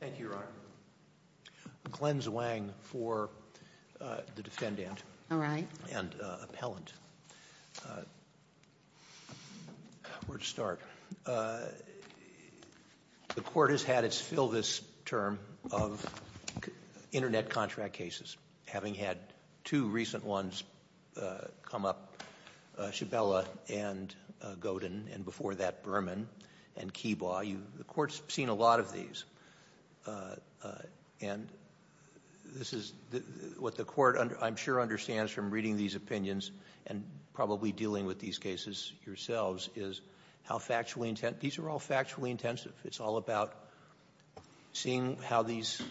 Thank you, Your Honor. Glenn Zwang for the defendant. All right. And appellant. Where to start? The court has had its fill this term of internet contract cases, having had two recent ones come up, Shabella and Godin, and before that, Berman and Kebaugh. The court's seen a lot of these. And this is what the court, I'm sure, understands from reading these opinions and probably dealing with these cases yourselves, is how factually intense. These are all factually intensive. It's all about seeing how these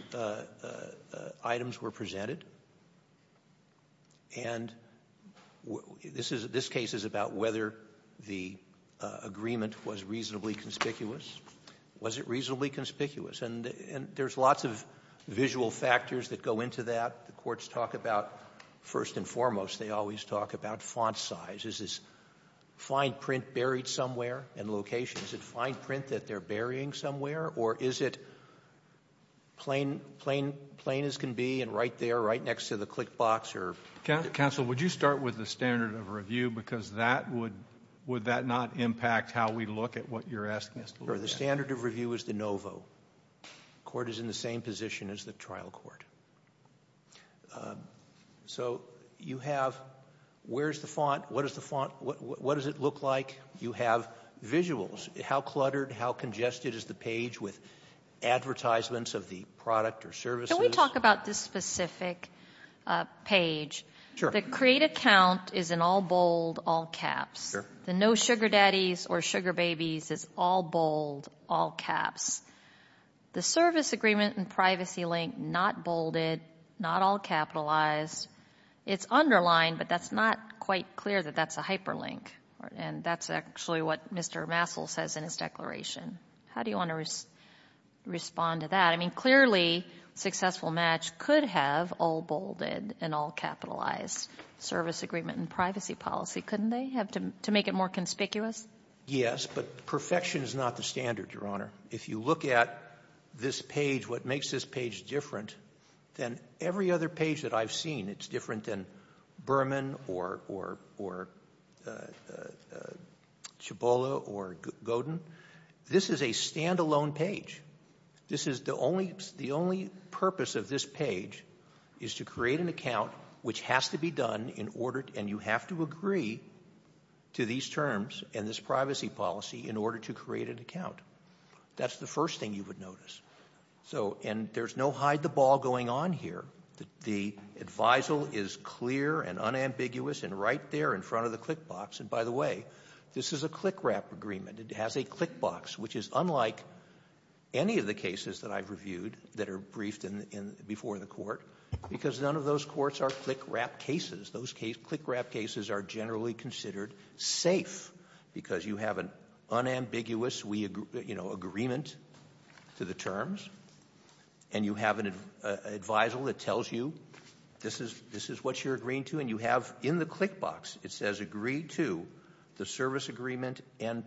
items were presented. And this case is about whether the agreement was reasonably conspicuous. Was it reasonably conspicuous? And there's lots of visual factors that go into that. The courts talk about, first and foremost, they always talk about font size. Is this fine print buried somewhere in location? Is it fine print that they're burying somewhere? Or is it plain as can be and right there, right next to the click box? Counsel, would you start with the standard of review? Because that would, would that not impact how we look at what you're asking us to look at? The standard of review is de novo. The court is in the same position as the trial court. So you have where's the font? What is the font? What does it look like? You have visuals. How cluttered, how congested is the page with advertisements of the product or services? Let me talk about this specific page. The create account is in all bold, all caps. The no sugar daddies or sugar babies is all bold, all caps. The service agreement and privacy link, not bolded, not all capitalized. It's underlined, but that's not quite clear that that's a hyperlink. And that's actually what Mr. Massell says in his declaration. How do you want to respond to that? I mean, clearly successful match could have all bolded and all capitalized service agreement and privacy policy, couldn't they, to make it more conspicuous? Yes, but perfection is not the standard, Your Honor. If you look at this page, what makes this page different than every other page that I've seen, it's different than Berman or, or, or Cibola or Godin. This is a stand-alone page. This is the only, the only purpose of this page is to create an account which has to be done in order, and you have to agree to these terms and this privacy policy in order to create an account. That's the first thing you would notice. So, and there's no hide the ball going on here. The, the advisal is clear and unambiguous and right there in front of the click box. And by the way, this is a click wrap agreement. It has a click box, which is unlike any of the cases that I've reviewed that are briefed in, in, before the court, because none of those courts are click wrap cases. Those case, click wrap cases are generally considered safe because you have an unambiguous, we agree, you know, agreement to the terms and you have an advisal that tells you this is, this is what you're agreeing to and you have in the click box, it says agree to the service agreement and,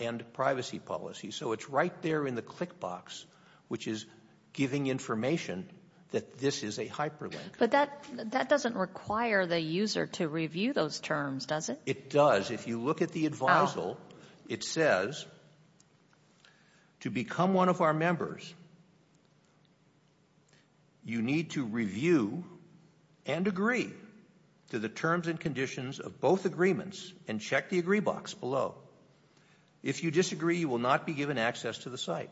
and privacy policy. So it's right there in the click box, which is giving information that this is a hyperlink. But that, that doesn't require the user to review those terms, does it? It does. If you look at the advisal, it says to become one of our members, you need to review and agree to the terms and conditions of both agreements and check the agree box below. If you disagree, you will not be given access to the site.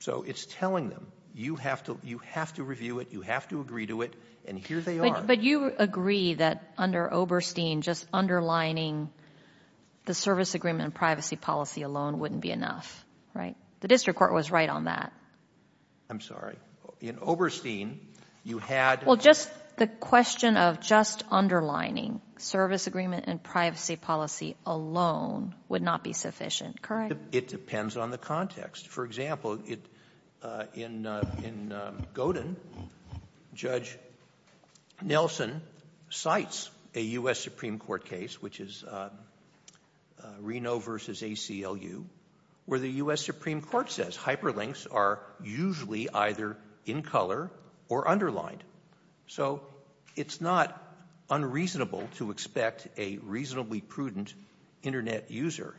So it's telling them you have to, you have to review it, you have to agree to it, and here they are. But you agree that under Oberstein, just underlining the service agreement and privacy policy alone wouldn't be enough, right? The district court was right on that. I'm sorry. In Oberstein, you had. Well, just the question of just underlining service agreement and privacy policy alone would not be sufficient, correct? It depends on the context. For example, it, in, in Godin, Judge Nelson cites a U.S. Supreme Court case, which is Reno versus ACLU, where the U.S. Supreme Court says hyperlinks are usually either in color or underlined. So it's not unreasonable to expect a reasonably prudent internet user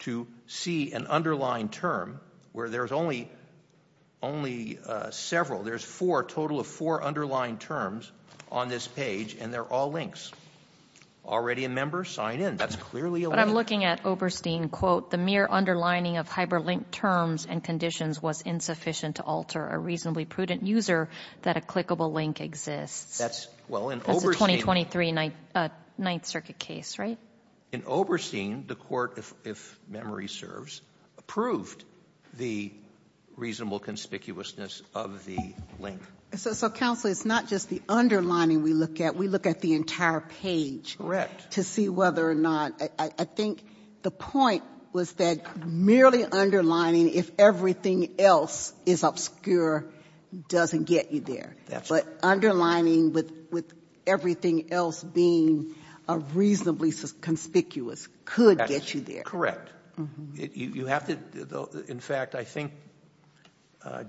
to see an underlined term where there's only, only several, there's four, total of four underlined terms on this page and they're all links. Already a member? Sign in. That's clearly a link. But I'm looking at Oberstein, quote, the mere underlining of hyperlink terms and conditions was insufficient to alter a reasonably prudent user that a clickable link exists. That's, well, in Oberstein. That's a 2023 Ninth Circuit case, right? In Oberstein, the court, if memory serves, approved the reasonable conspicuousness of the link. So, so counsel, it's not just the underlining we look at. We look at the entire page. To see whether or not, I, I think the point was that merely underlining, if everything else is obscure, doesn't get you there. That's right. But underlining with, with everything else being a reasonably conspicuous could get you there. Correct. You have to, in fact, I think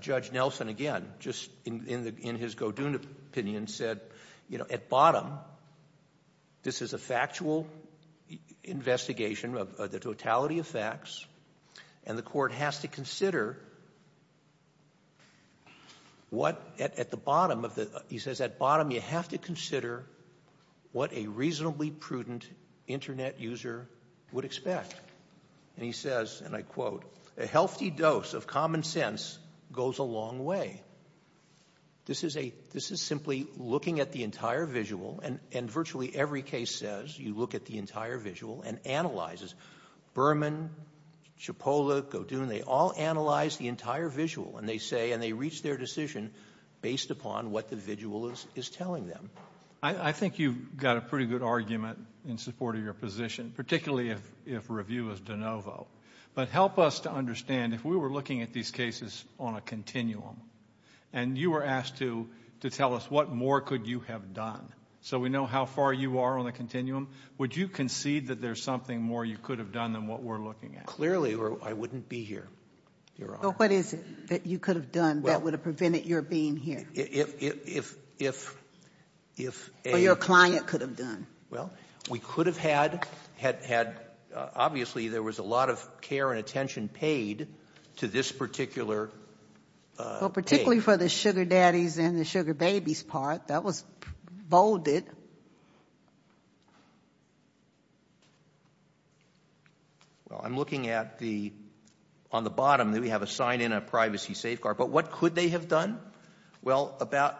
Judge Nelson, again, just in the, in his Godun opinion said, you know, at bottom, this is a factual investigation of the totality of facts and the court has to consider what at the bottom of the, he says at bottom you have to consider what a reasonably prudent internet user would expect. And he says, and I quote, a healthy dose of common sense goes a long way. This is a, this is simply looking at the entire visual and, and virtually every case says you look at the entire visual and analyzes. Berman, Chipola, Godun, they all analyze the entire visual and they say, and they I, I think you've got a pretty good argument in support of your position, particularly if, if review is de novo, but help us to understand if we were looking at these cases on a continuum and you were asked to, to tell us what more could you have done, so we know how far you are on the continuum, would you concede that there's something more you could have done than what we're looking at? Clearly, or I wouldn't be here. Your honor. What is it that you could have done that would have prevented your being here? If, if, if, if, if a. Or your client could have done. Well, we could have had, had, had, obviously there was a lot of care and attention paid to this particular. Well, particularly for the sugar daddies and the sugar babies part that was bolded. Well, I'm looking at the, on the bottom that we have a sign in a privacy safeguard, but what could they have done? Well, about,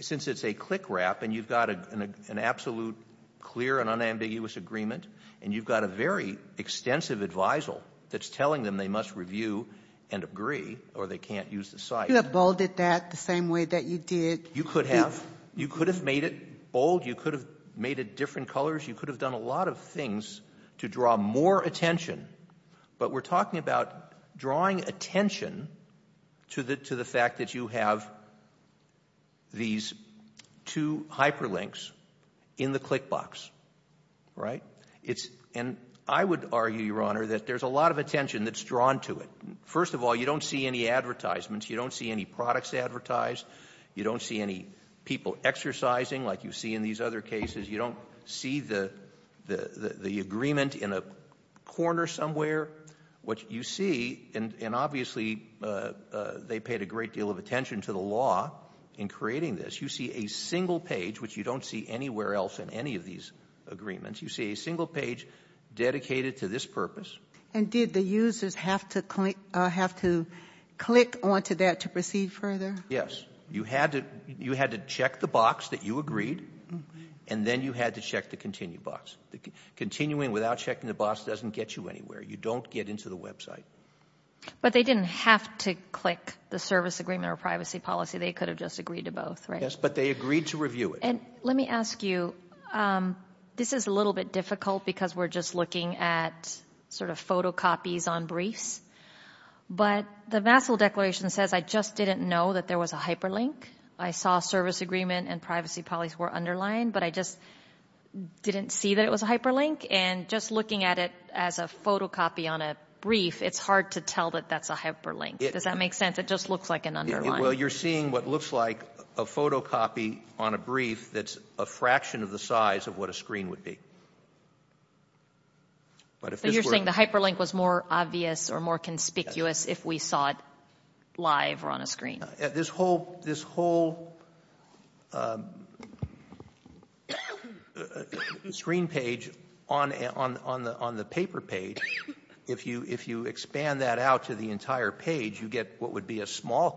since it's a click wrap and you've got an absolute clear and unambiguous agreement and you've got a very extensive advisal that's telling them they must review and agree or they can't use the site. You have bolded that the same way that you did. You could have. You could have made it bold. You could have made it different colors. You could have done a lot of things to draw more attention, but we're talking about drawing attention to the, to the fact that you have these two hyperlinks in the click box, right? It's, and I would argue, Your Honor, that there's a lot of attention that's drawn to it. First of all, you don't see any advertisements. You don't see any products advertised. You don't see any people exercising like you see in these other cases. You don't see the, the, the agreement in a corner somewhere. What you see, and obviously they paid a great deal of attention to the law in creating this, you see a single page, which you don't see anywhere else in any of these agreements, you see a single page dedicated to this purpose. And did the users have to click, have to click onto that to proceed further? Yes. You had to, you had to check the box that you agreed and then you had to check the continue box. Continuing without checking the box doesn't get you anywhere. You don't get into the website. But they didn't have to click the service agreement or privacy policy. They could have just agreed to both, right? Yes, but they agreed to review it. And let me ask you, this is a little bit difficult because we're just looking at sort of photocopies on briefs. But the vassal declaration says, I just didn't know that there was a hyperlink. I saw service agreement and privacy policy were underlined, but I just didn't see that it was a hyperlink. And just looking at it as a photocopy on a brief, it's hard to tell that that's a hyperlink. Does that make sense? It just looks like an underline. Well, you're seeing what looks like a photocopy on a brief that's a fraction of the size of what a screen would be. But you're saying the hyperlink was more obvious or more conspicuous if we saw it live or on a screen? This whole screen page on the paper page, if you expand that out to the entire page, you get what would be a small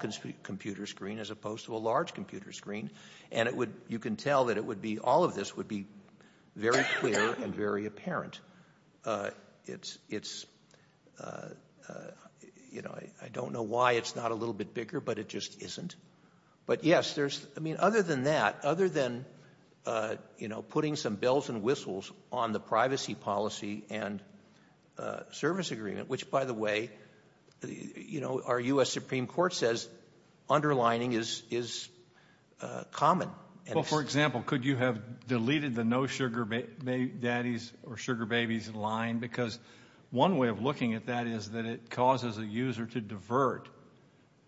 computer screen as opposed to a large computer screen. And you can tell that all of this would be very clear and very apparent. It's, you know, I don't know why it's not a little bit bigger, but it just isn't. But yes, there's I mean, other than that, other than, you know, putting some bells and whistles on the privacy policy and service agreement, which, by the way, you know, our U.S. Supreme Court says underlining is common. Well, for example, could you have deleted the no sugar daddies or sugar babies line? Because one way of looking at that is that it causes a user to divert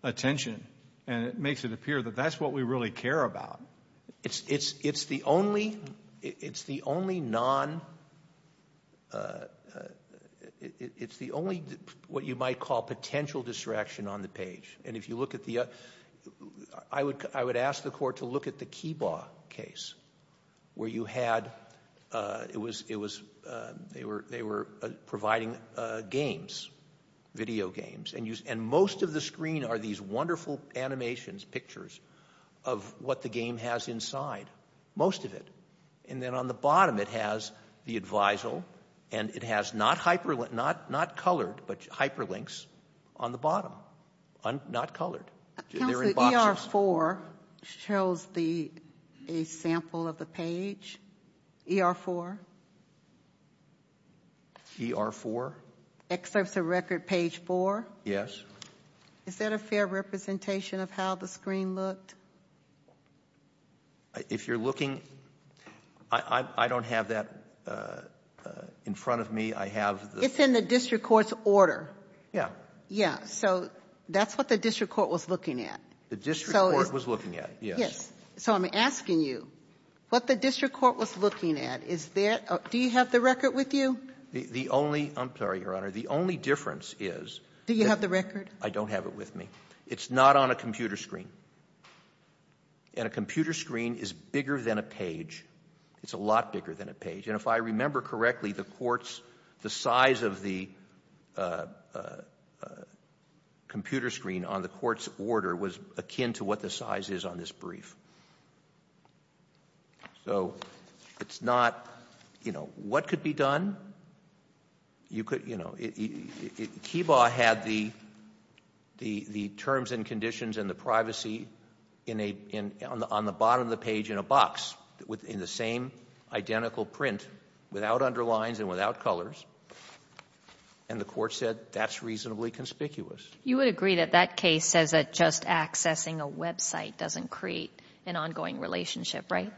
attention, and it makes it appear that that's what we really care about. It's the only non, it's the only what you might call potential distraction on the page. And if you look at the, I would ask the court to look at the Kibaugh case where you had, it was, they were providing games, video games, and most of the screen are these wonderful animations, pictures of what the game has inside, most of it. And then on the bottom, it has the advisal, and it has not hyperlinks, not colored, but hyperlinks on the bottom, not colored. They're in boxes. Counselor, ER-4 shows the, a sample of the page, ER-4? ER-4? Excerpts of record page four? Yes. Is that a fair representation of how the screen looked? If you're looking, I don't have that in front of me. It's in the district court's order. Yeah. Yeah. So that's what the district court was looking at. The district court was looking at, yes. Yes. So I'm asking you, what the district court was looking at, is there, do you have the record with you? The only, I'm sorry, Your Honor, the only difference is. Do you have the record? I don't have it with me. It's not on a computer screen. And a computer screen is bigger than a page. It's a lot bigger than a page. And if I remember correctly, the court's, the size of the computer screen on the court's order was akin to what the size is on this brief. So it's not, you know, what could be done? You could, you know, Kibaugh had the terms and conditions and the privacy in a, on the without underlines and without colors. And the court said that's reasonably conspicuous. You would agree that that case says that just accessing a website doesn't create an ongoing relationship, right?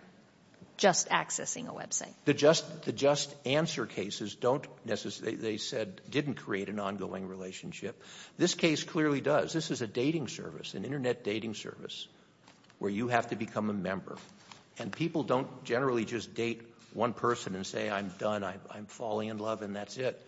Just accessing a website. The just, the just answer cases don't necessarily, they said, didn't create an ongoing relationship. This case clearly does. This is a dating service, an internet dating service, where you have to become a member. And people don't generally just date one person and say, I'm done, I'm falling in love and that's it.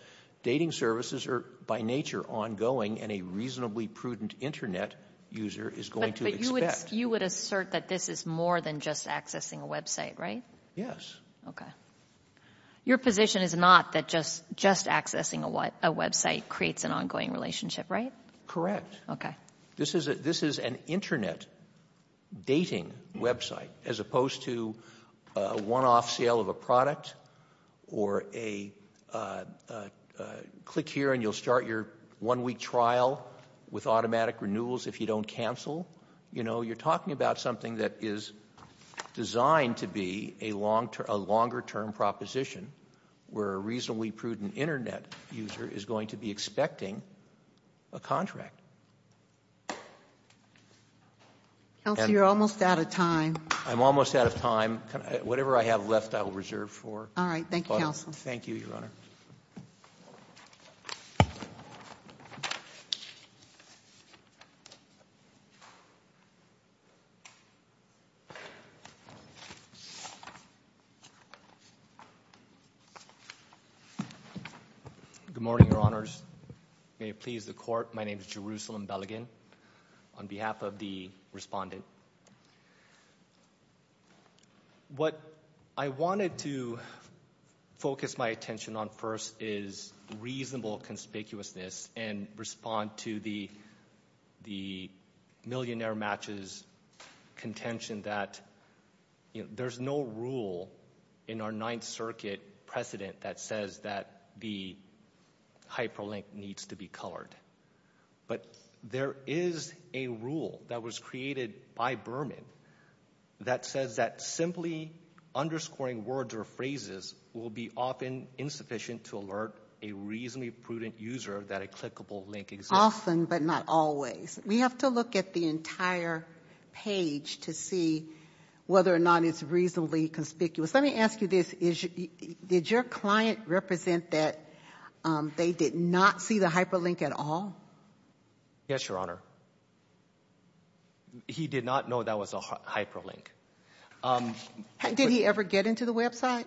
Dating services are by nature ongoing and a reasonably prudent internet user is going to expect. You would assert that this is more than just accessing a website, right? Yes. Okay. Your position is not that just, just accessing a website creates an ongoing relationship, right? Correct. Okay. This is an internet dating website as opposed to a one off sale of a product or a click here and you'll start your one week trial with automatic renewals if you don't cancel. You know, you're talking about something that is designed to be a long term, a longer term proposition where a reasonably prudent internet user is going to be expecting a Counselor, you're almost out of time. I'm almost out of time. Whatever I have left, I will reserve for. All right. Thank you, Counselor. Thank you, Your Honor. Good morning, Your Honors. May it please the court. My name is Jerusalem Beligan on behalf of the respondent. What I wanted to focus my attention on first is reasonable conspicuousness and respond to the, the millionaire matches contention that there's no rule in our ninth circuit precedent that says that the hyperlink needs to be colored. But there is a rule that was created by Berman that says that simply underscoring words or phrases will be often insufficient to alert a reasonably prudent user that a clickable link exists. Often, but not always. We have to look at the entire page to see whether or not it's reasonably conspicuous. Let me ask you this. Did your client represent that they did not see the hyperlink at all? Yes, Your Honor. He did not know that was a hyperlink. Did he ever get into the website?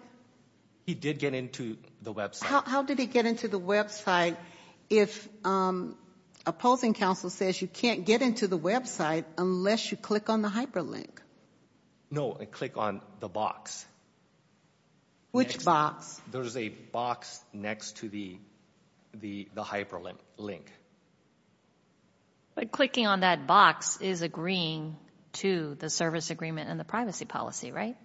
He did get into the website. How did he get into the website if opposing counsel says you can't get into the website unless you click on the hyperlink? No, I click on the box. Which box? There's a box next to the, the, the hyperlink link. But clicking on that box is agreeing to the service agreement and the privacy policy, right?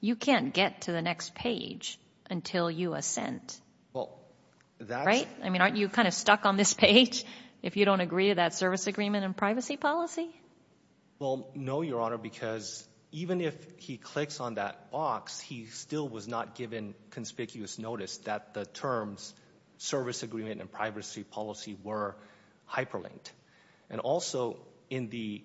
You can't get to the next page until you assent. Well, that's right. I mean, aren't you kind of stuck on this page if you don't agree to that service agreement and privacy policy? Well, no, Your Honor, because even if he clicks on that box, he still was not given conspicuous notice that the terms service agreement and privacy policy were hyperlinked. And also in the,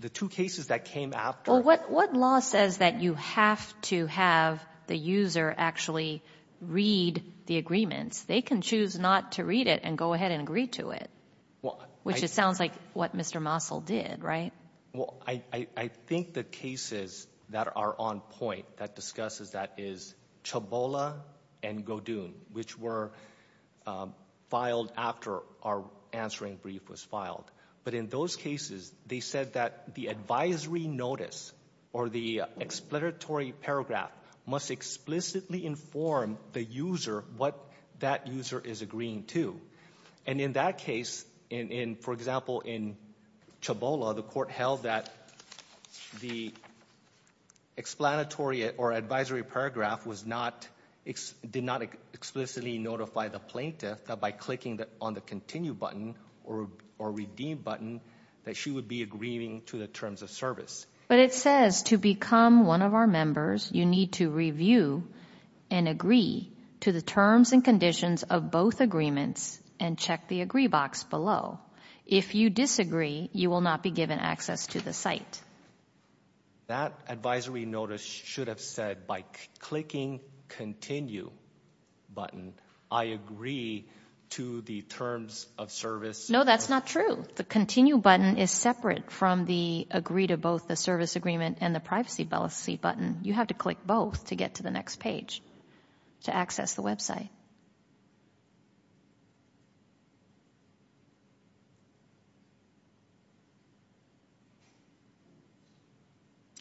the two cases that came after. Well, what, what law says that you have to have the user actually read the agreements? They can choose not to read it and go ahead and agree to it. Which it sounds like what Mr. Mosel did, right? Well, I, I think the cases that are on point that discusses that is Chabola and Godun, which were filed after our answering brief was filed. But in those cases, they said that the advisory notice or the explanatory paragraph must explicitly inform the user what that user is agreeing to. And in that case, in, in, for example, in Chabola, the court held that the explanatory or advisory paragraph was not, did not explicitly notify the plaintiff that by clicking on the continue button or, or redeem button that she would be agreeing to the terms of service. But it says to become one of our members, you need to review and agree to the terms and conditions of both agreements and check the agree box below. If you disagree, you will not be given access to the site. That advisory notice should have said by clicking continue button, I agree to the terms of service. No, that's not true. The continue button is separate from the agree to both the service agreement and the privacy policy button. You have to click both to get to the next page to access the website.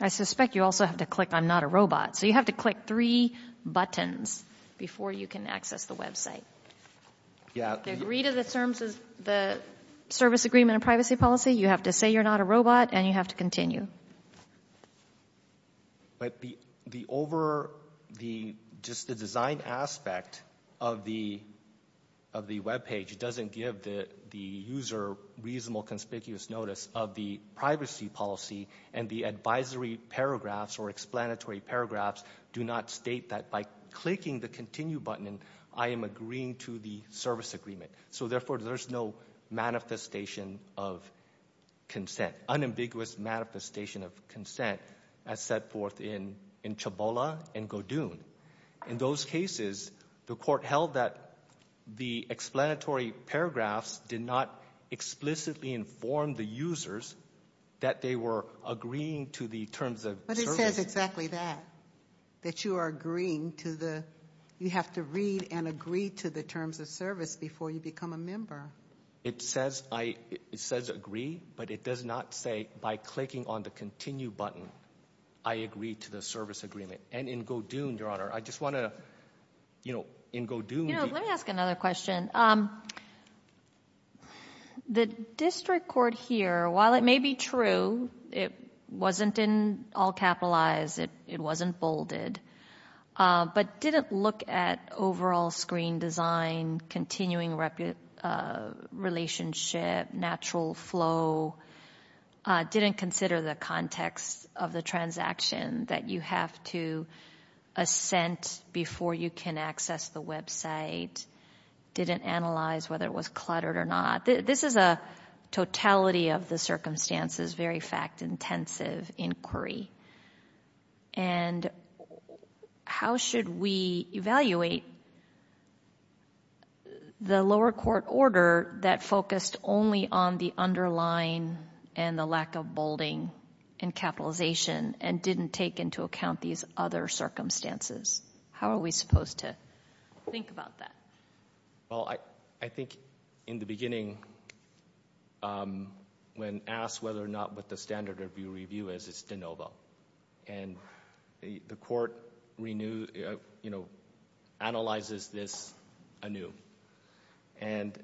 I suspect you also have to click I'm not a robot. So you have to click three buttons before you can access the website. Yeah. The agree to the terms of the service agreement and privacy policy, you have to say you're not a robot and you have to continue. But the, the over the, just the design aspect of the, of the webpage doesn't give the, the user reasonable conspicuous notice of the privacy policy and the advisory paragraphs or explanatory paragraphs do not state that by clicking the continue button, I am agreeing to the service agreement. So therefore, there's no manifestation of consent, unambiguous manifestation of consent as set forth in, in Chabola and Godun. In those cases, the court held that the explanatory paragraphs did not explicitly inform the users that they were agreeing to the terms of service. But it says exactly that, that you are agreeing to the, you have to read and agree to the terms of service before you become a member. It says I, it says agree, but it does not say by clicking on the continue button, I agree to the service agreement. And in Godun, Your Honor, I just want to, you know, in Godun. You know, let me ask another question. The district court here, while it may be true, it wasn't in all capitalized, it, it wasn't bolded, but didn't look at overall screen design, continuing relationship, natural flow, didn't consider the context of the transaction that you have to assent before you can access the website, didn't analyze whether it was cluttered or not. This is a totality of the circumstances, very fact intensive inquiry. And how should we evaluate the lower court order that focused only on the underlying and the lack of bolding and capitalization and didn't take into account these other circumstances? How are we supposed to think about that? Well, I, I think in the beginning, um, when asked whether or not what the standard review is, it's de novo. And the court renew, you know, analyzes this anew. And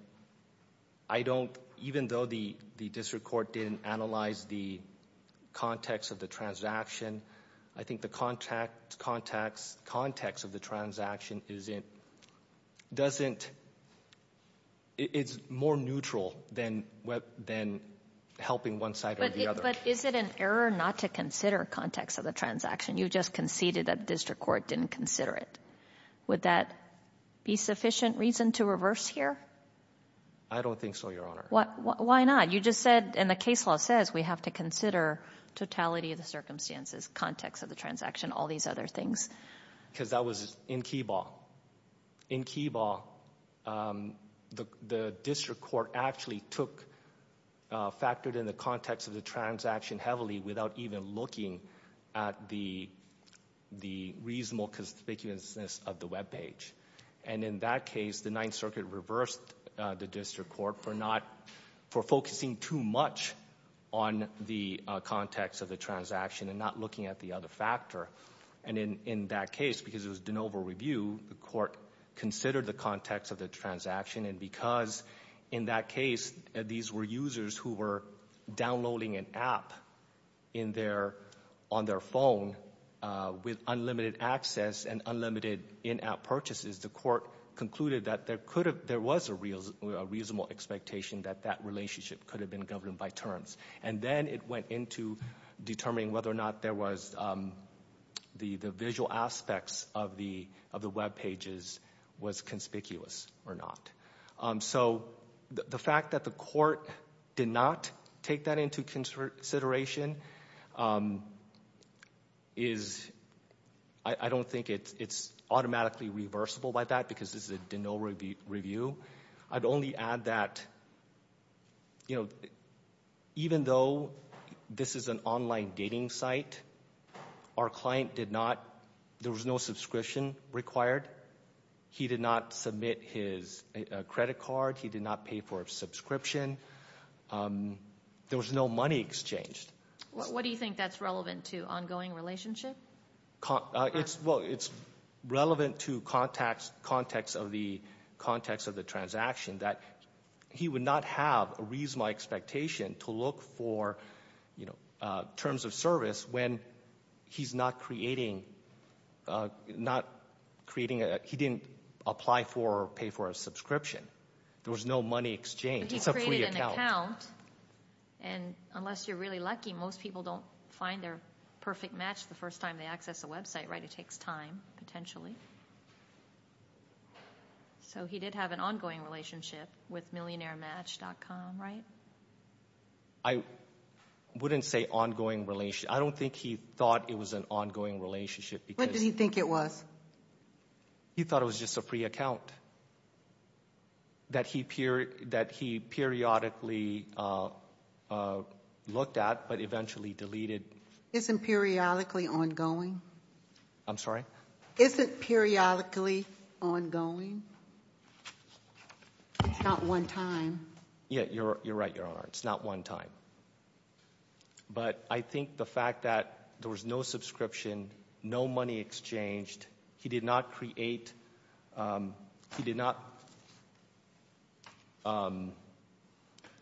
I don't, even though the, the district court didn't analyze the context of the transaction, I think the contact, context, context of the transaction isn't, doesn't, it's more neutral than what, than helping one side or the other. But is it an error not to consider context of the transaction? You just conceded that the district court didn't consider it. Would that be sufficient reason to reverse here? I don't think so, Your Honor. Why not? You just said, and the case law says we have to consider totality of the circumstances, context of the transaction, all these other things. Because that was in Keyball. In Keyball, um, the, the district court actually took, uh, factored in the context of the transaction heavily without even looking at the, the reasonable conspicuousness of the webpage. And in that case, the Ninth Circuit reversed, uh, the district court for not, for focusing too much on the, uh, context of the transaction and not looking at the other factor. And in, in that case, because it was de novo review, the court considered the context of the transaction. And because in that case, these were users who were downloading an app in their, on their phone, uh, with unlimited access and unlimited in-app purchases. The court concluded that there could have, there was a real, a reasonable expectation that that relationship could have been governed by terms. And then it went into determining whether or not there was, um, the, the visual aspects of the, of the webpages was conspicuous or not. Um, so the, the fact that the court did not take that into consideration, um, is, I, I don't think it's, it's automatically reversible by that because this is a de novo review. I'd only add that, you know, even though this is an online dating site, our client did not, there was no subscription required. He did not submit his, uh, credit card. He did not pay for a subscription. Um, there was no money exchanged. What do you think that's relevant to, ongoing relationship? Con, uh, it's, well, it's relevant to context, context of the, context of the transaction that he would not have a reasonable expectation to look for, you know, uh, terms of service when he's not creating, uh, not creating a, he didn't apply for or pay for a subscription. There was no money exchanged. It's a free account. But he created an account, and unless you're really lucky, most people don't find their perfect match the first time they access a website, right? It takes time, potentially. So he did have an ongoing relationship with MillionaireMatch.com, right? I wouldn't say ongoing relationship. I don't think he thought it was an ongoing relationship. What did he think it was? He thought it was just a free account that he period, that he periodically, uh, uh, looked at, but eventually deleted. Isn't periodically ongoing? I'm sorry? Isn't periodically ongoing? It's not one time. Yeah, you're, you're right, Your Honor. It's not one time. But I think the fact that there was no subscription, no money exchanged, he did not create, um, he did not, um,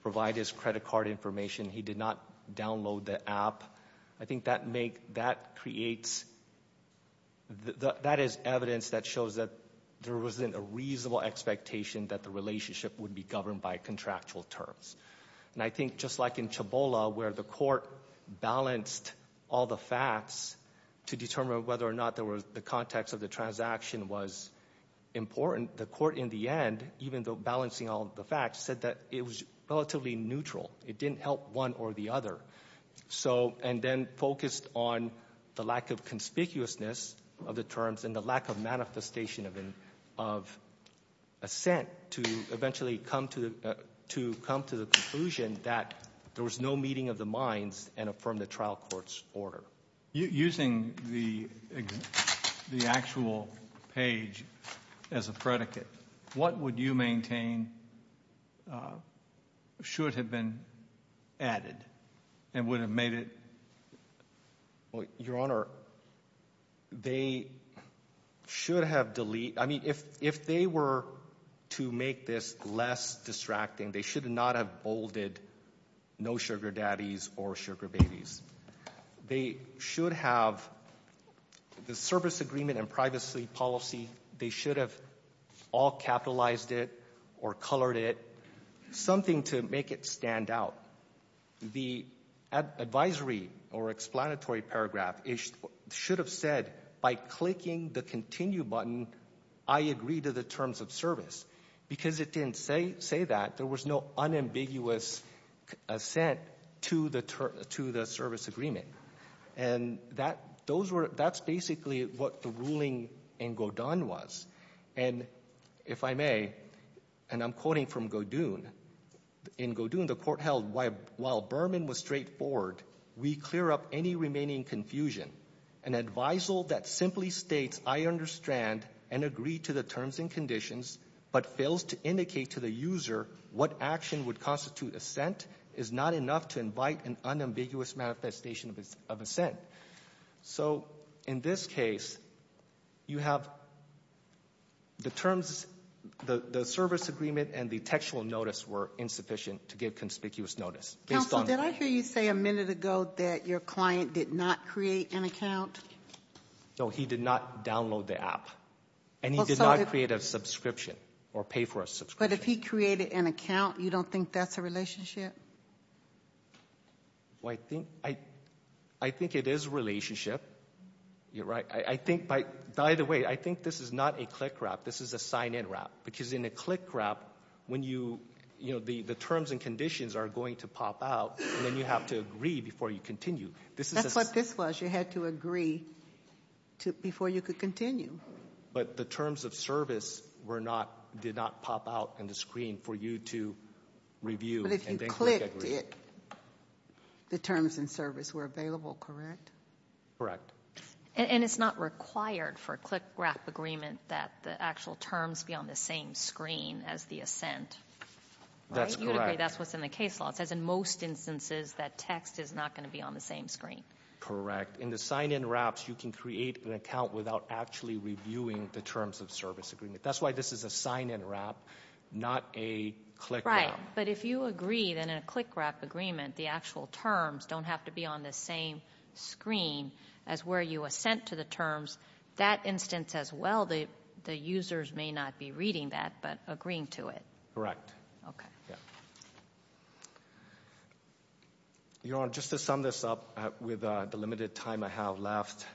provide his credit card information. He did not download the app. I think that make, that creates, that is evidence that shows that there wasn't a reasonable expectation that the relationship would be governed by contractual terms. And I think just like in Chabola, where the court balanced all the facts to determine whether or not there was, the context of the transaction was important, the court in the end, even though balancing all the facts, said that it was relatively neutral. It didn't help one or the other. So, and then focused on the lack of conspicuousness of the terms and the lack of manifestation of an, of assent to eventually come to, uh, to come to the conclusion that there was no meeting of the minds and affirm the trial court's order. Using the, the actual page as a predicate, what would you maintain, uh, should have been added and would have made it? Well, Your Honor, they should have delete, I mean, if, if they were to make this less distracting, they should not have bolded no sugar daddies or sugar babies. They should have the service agreement and privacy policy, they should have all capitalized it or colored it, something to make it stand out. The advisory or explanatory paragraph, it should have said by clicking the continue button, I agree to the terms of service because it didn't say, say that there was no unambiguous assent to the, to the service agreement. And that, those were, that's basically what the ruling in Godin was. And if I may, and I'm quoting from Godin, in Godin, the court held while, while Berman was straightforward, we clear up any remaining confusion. An advisal that simply states, I understand and agree to the terms and conditions, but fails to indicate to the user what action would constitute assent is not enough to invite an unambiguous manifestation of, of assent. So in this case, you have the terms, the, the service agreement and the textual notice were insufficient to give conspicuous notice. Counselor, did I hear you say a minute ago that your client did not create an account? No, he did not download the app and he did not create a subscription or pay for a subscription. But if he created an account, you don't think that's a relationship? Well, I think, I, I think it is a relationship. You're right. I, I think by, by the way, I think this is not a click wrap. This is a sign in wrap. Because in a click wrap, when you, you know, the, the terms and conditions are going to pop out and then you have to agree before you continue. This is a... That's what this was. You had to agree to, before you could continue. But the terms of service were not, did not pop out on the screen for you to review and click it. The terms and service were available, correct? And it's not required for a click wrap agreement that the actual terms be on the same screen as the assent. That's correct. That's what's in the case law. It says in most instances that text is not going to be on the same screen. Correct. In the sign in wraps, you can create an account without actually reviewing the terms of service agreement. That's why this is a sign in wrap, not a click wrap. Right. But if you agree, then in a click wrap agreement, the actual terms don't have to be on the same screen as where you assent to the terms. That instance as well, the, the users may not be reading that, but agreeing to it. Correct. Okay. Your Honor, just to sum this up with the limited time I have left.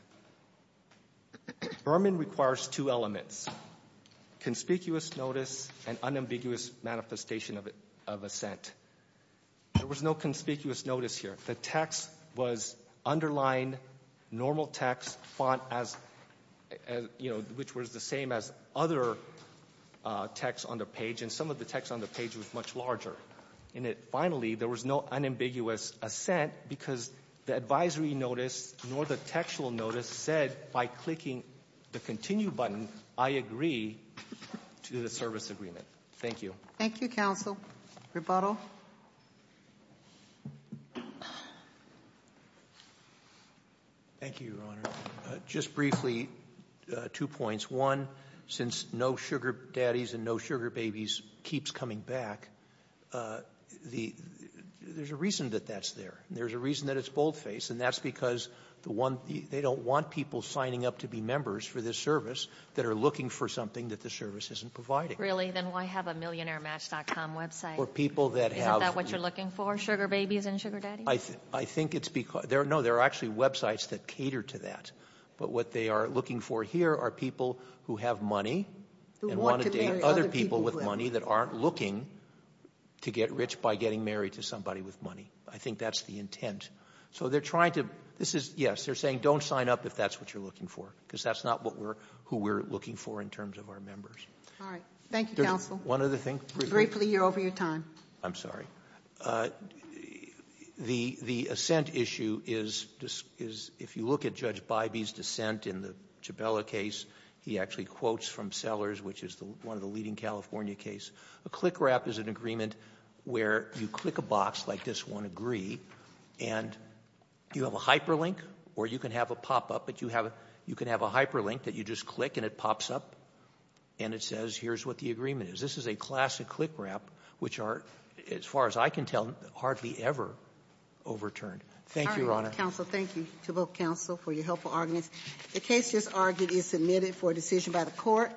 Berman requires two elements. Conspicuous notice and unambiguous manifestation of assent. There was no conspicuous notice here. The text was underlined, normal text font as, you know, which was the same as other text on the page. And some of the text on the page was much larger. In it, finally, there was no unambiguous assent because the advisory notice nor the textual notice said by clicking the continue button, I agree to the service agreement. Thank you. Thank you, counsel. Rebuttal. Thank you, Your Honor. Just briefly, two points. One, since no sugar daddies and no sugar babies keeps coming back, the — there's a reason that that's there. There's a reason that it's boldface. And that's because the one — they don't want people signing up to be members for this service that are looking for something that the service isn't providing. Really? Then why have a millionairematch.com website? For people that have — Isn't that what you're looking for, sugar babies and sugar daddies? I think it's because — no, there are actually websites that cater to that. But what they are looking for here are people who have money and want to date other people with money that aren't looking to get rich by getting married to somebody with money. I think that's the intent. So they're trying to — this is — yes, they're saying don't sign up if that's what you're looking for, because that's not what we're — who we're looking for in terms of our members. All right. Thank you, counsel. One other thing. Briefly, you're over your time. I'm sorry. The assent issue is — if you look at Judge Bybee's dissent in the Chabela case, he actually quotes from Sellers, which is one of the leading California case. A click-wrap is an agreement where you click a box like this one, agree, and you have a hyperlink or you can have a pop-up, but you have — you can have a hyperlink that you just click and it pops up and it says here's what the agreement is. This is a classic click-wrap, which are, as far as I can tell, hardly ever overturned. Thank you, Your Honor. Counsel, thank you to both counsel for your helpful arguments. The case just argued is submitted for a decision by the court.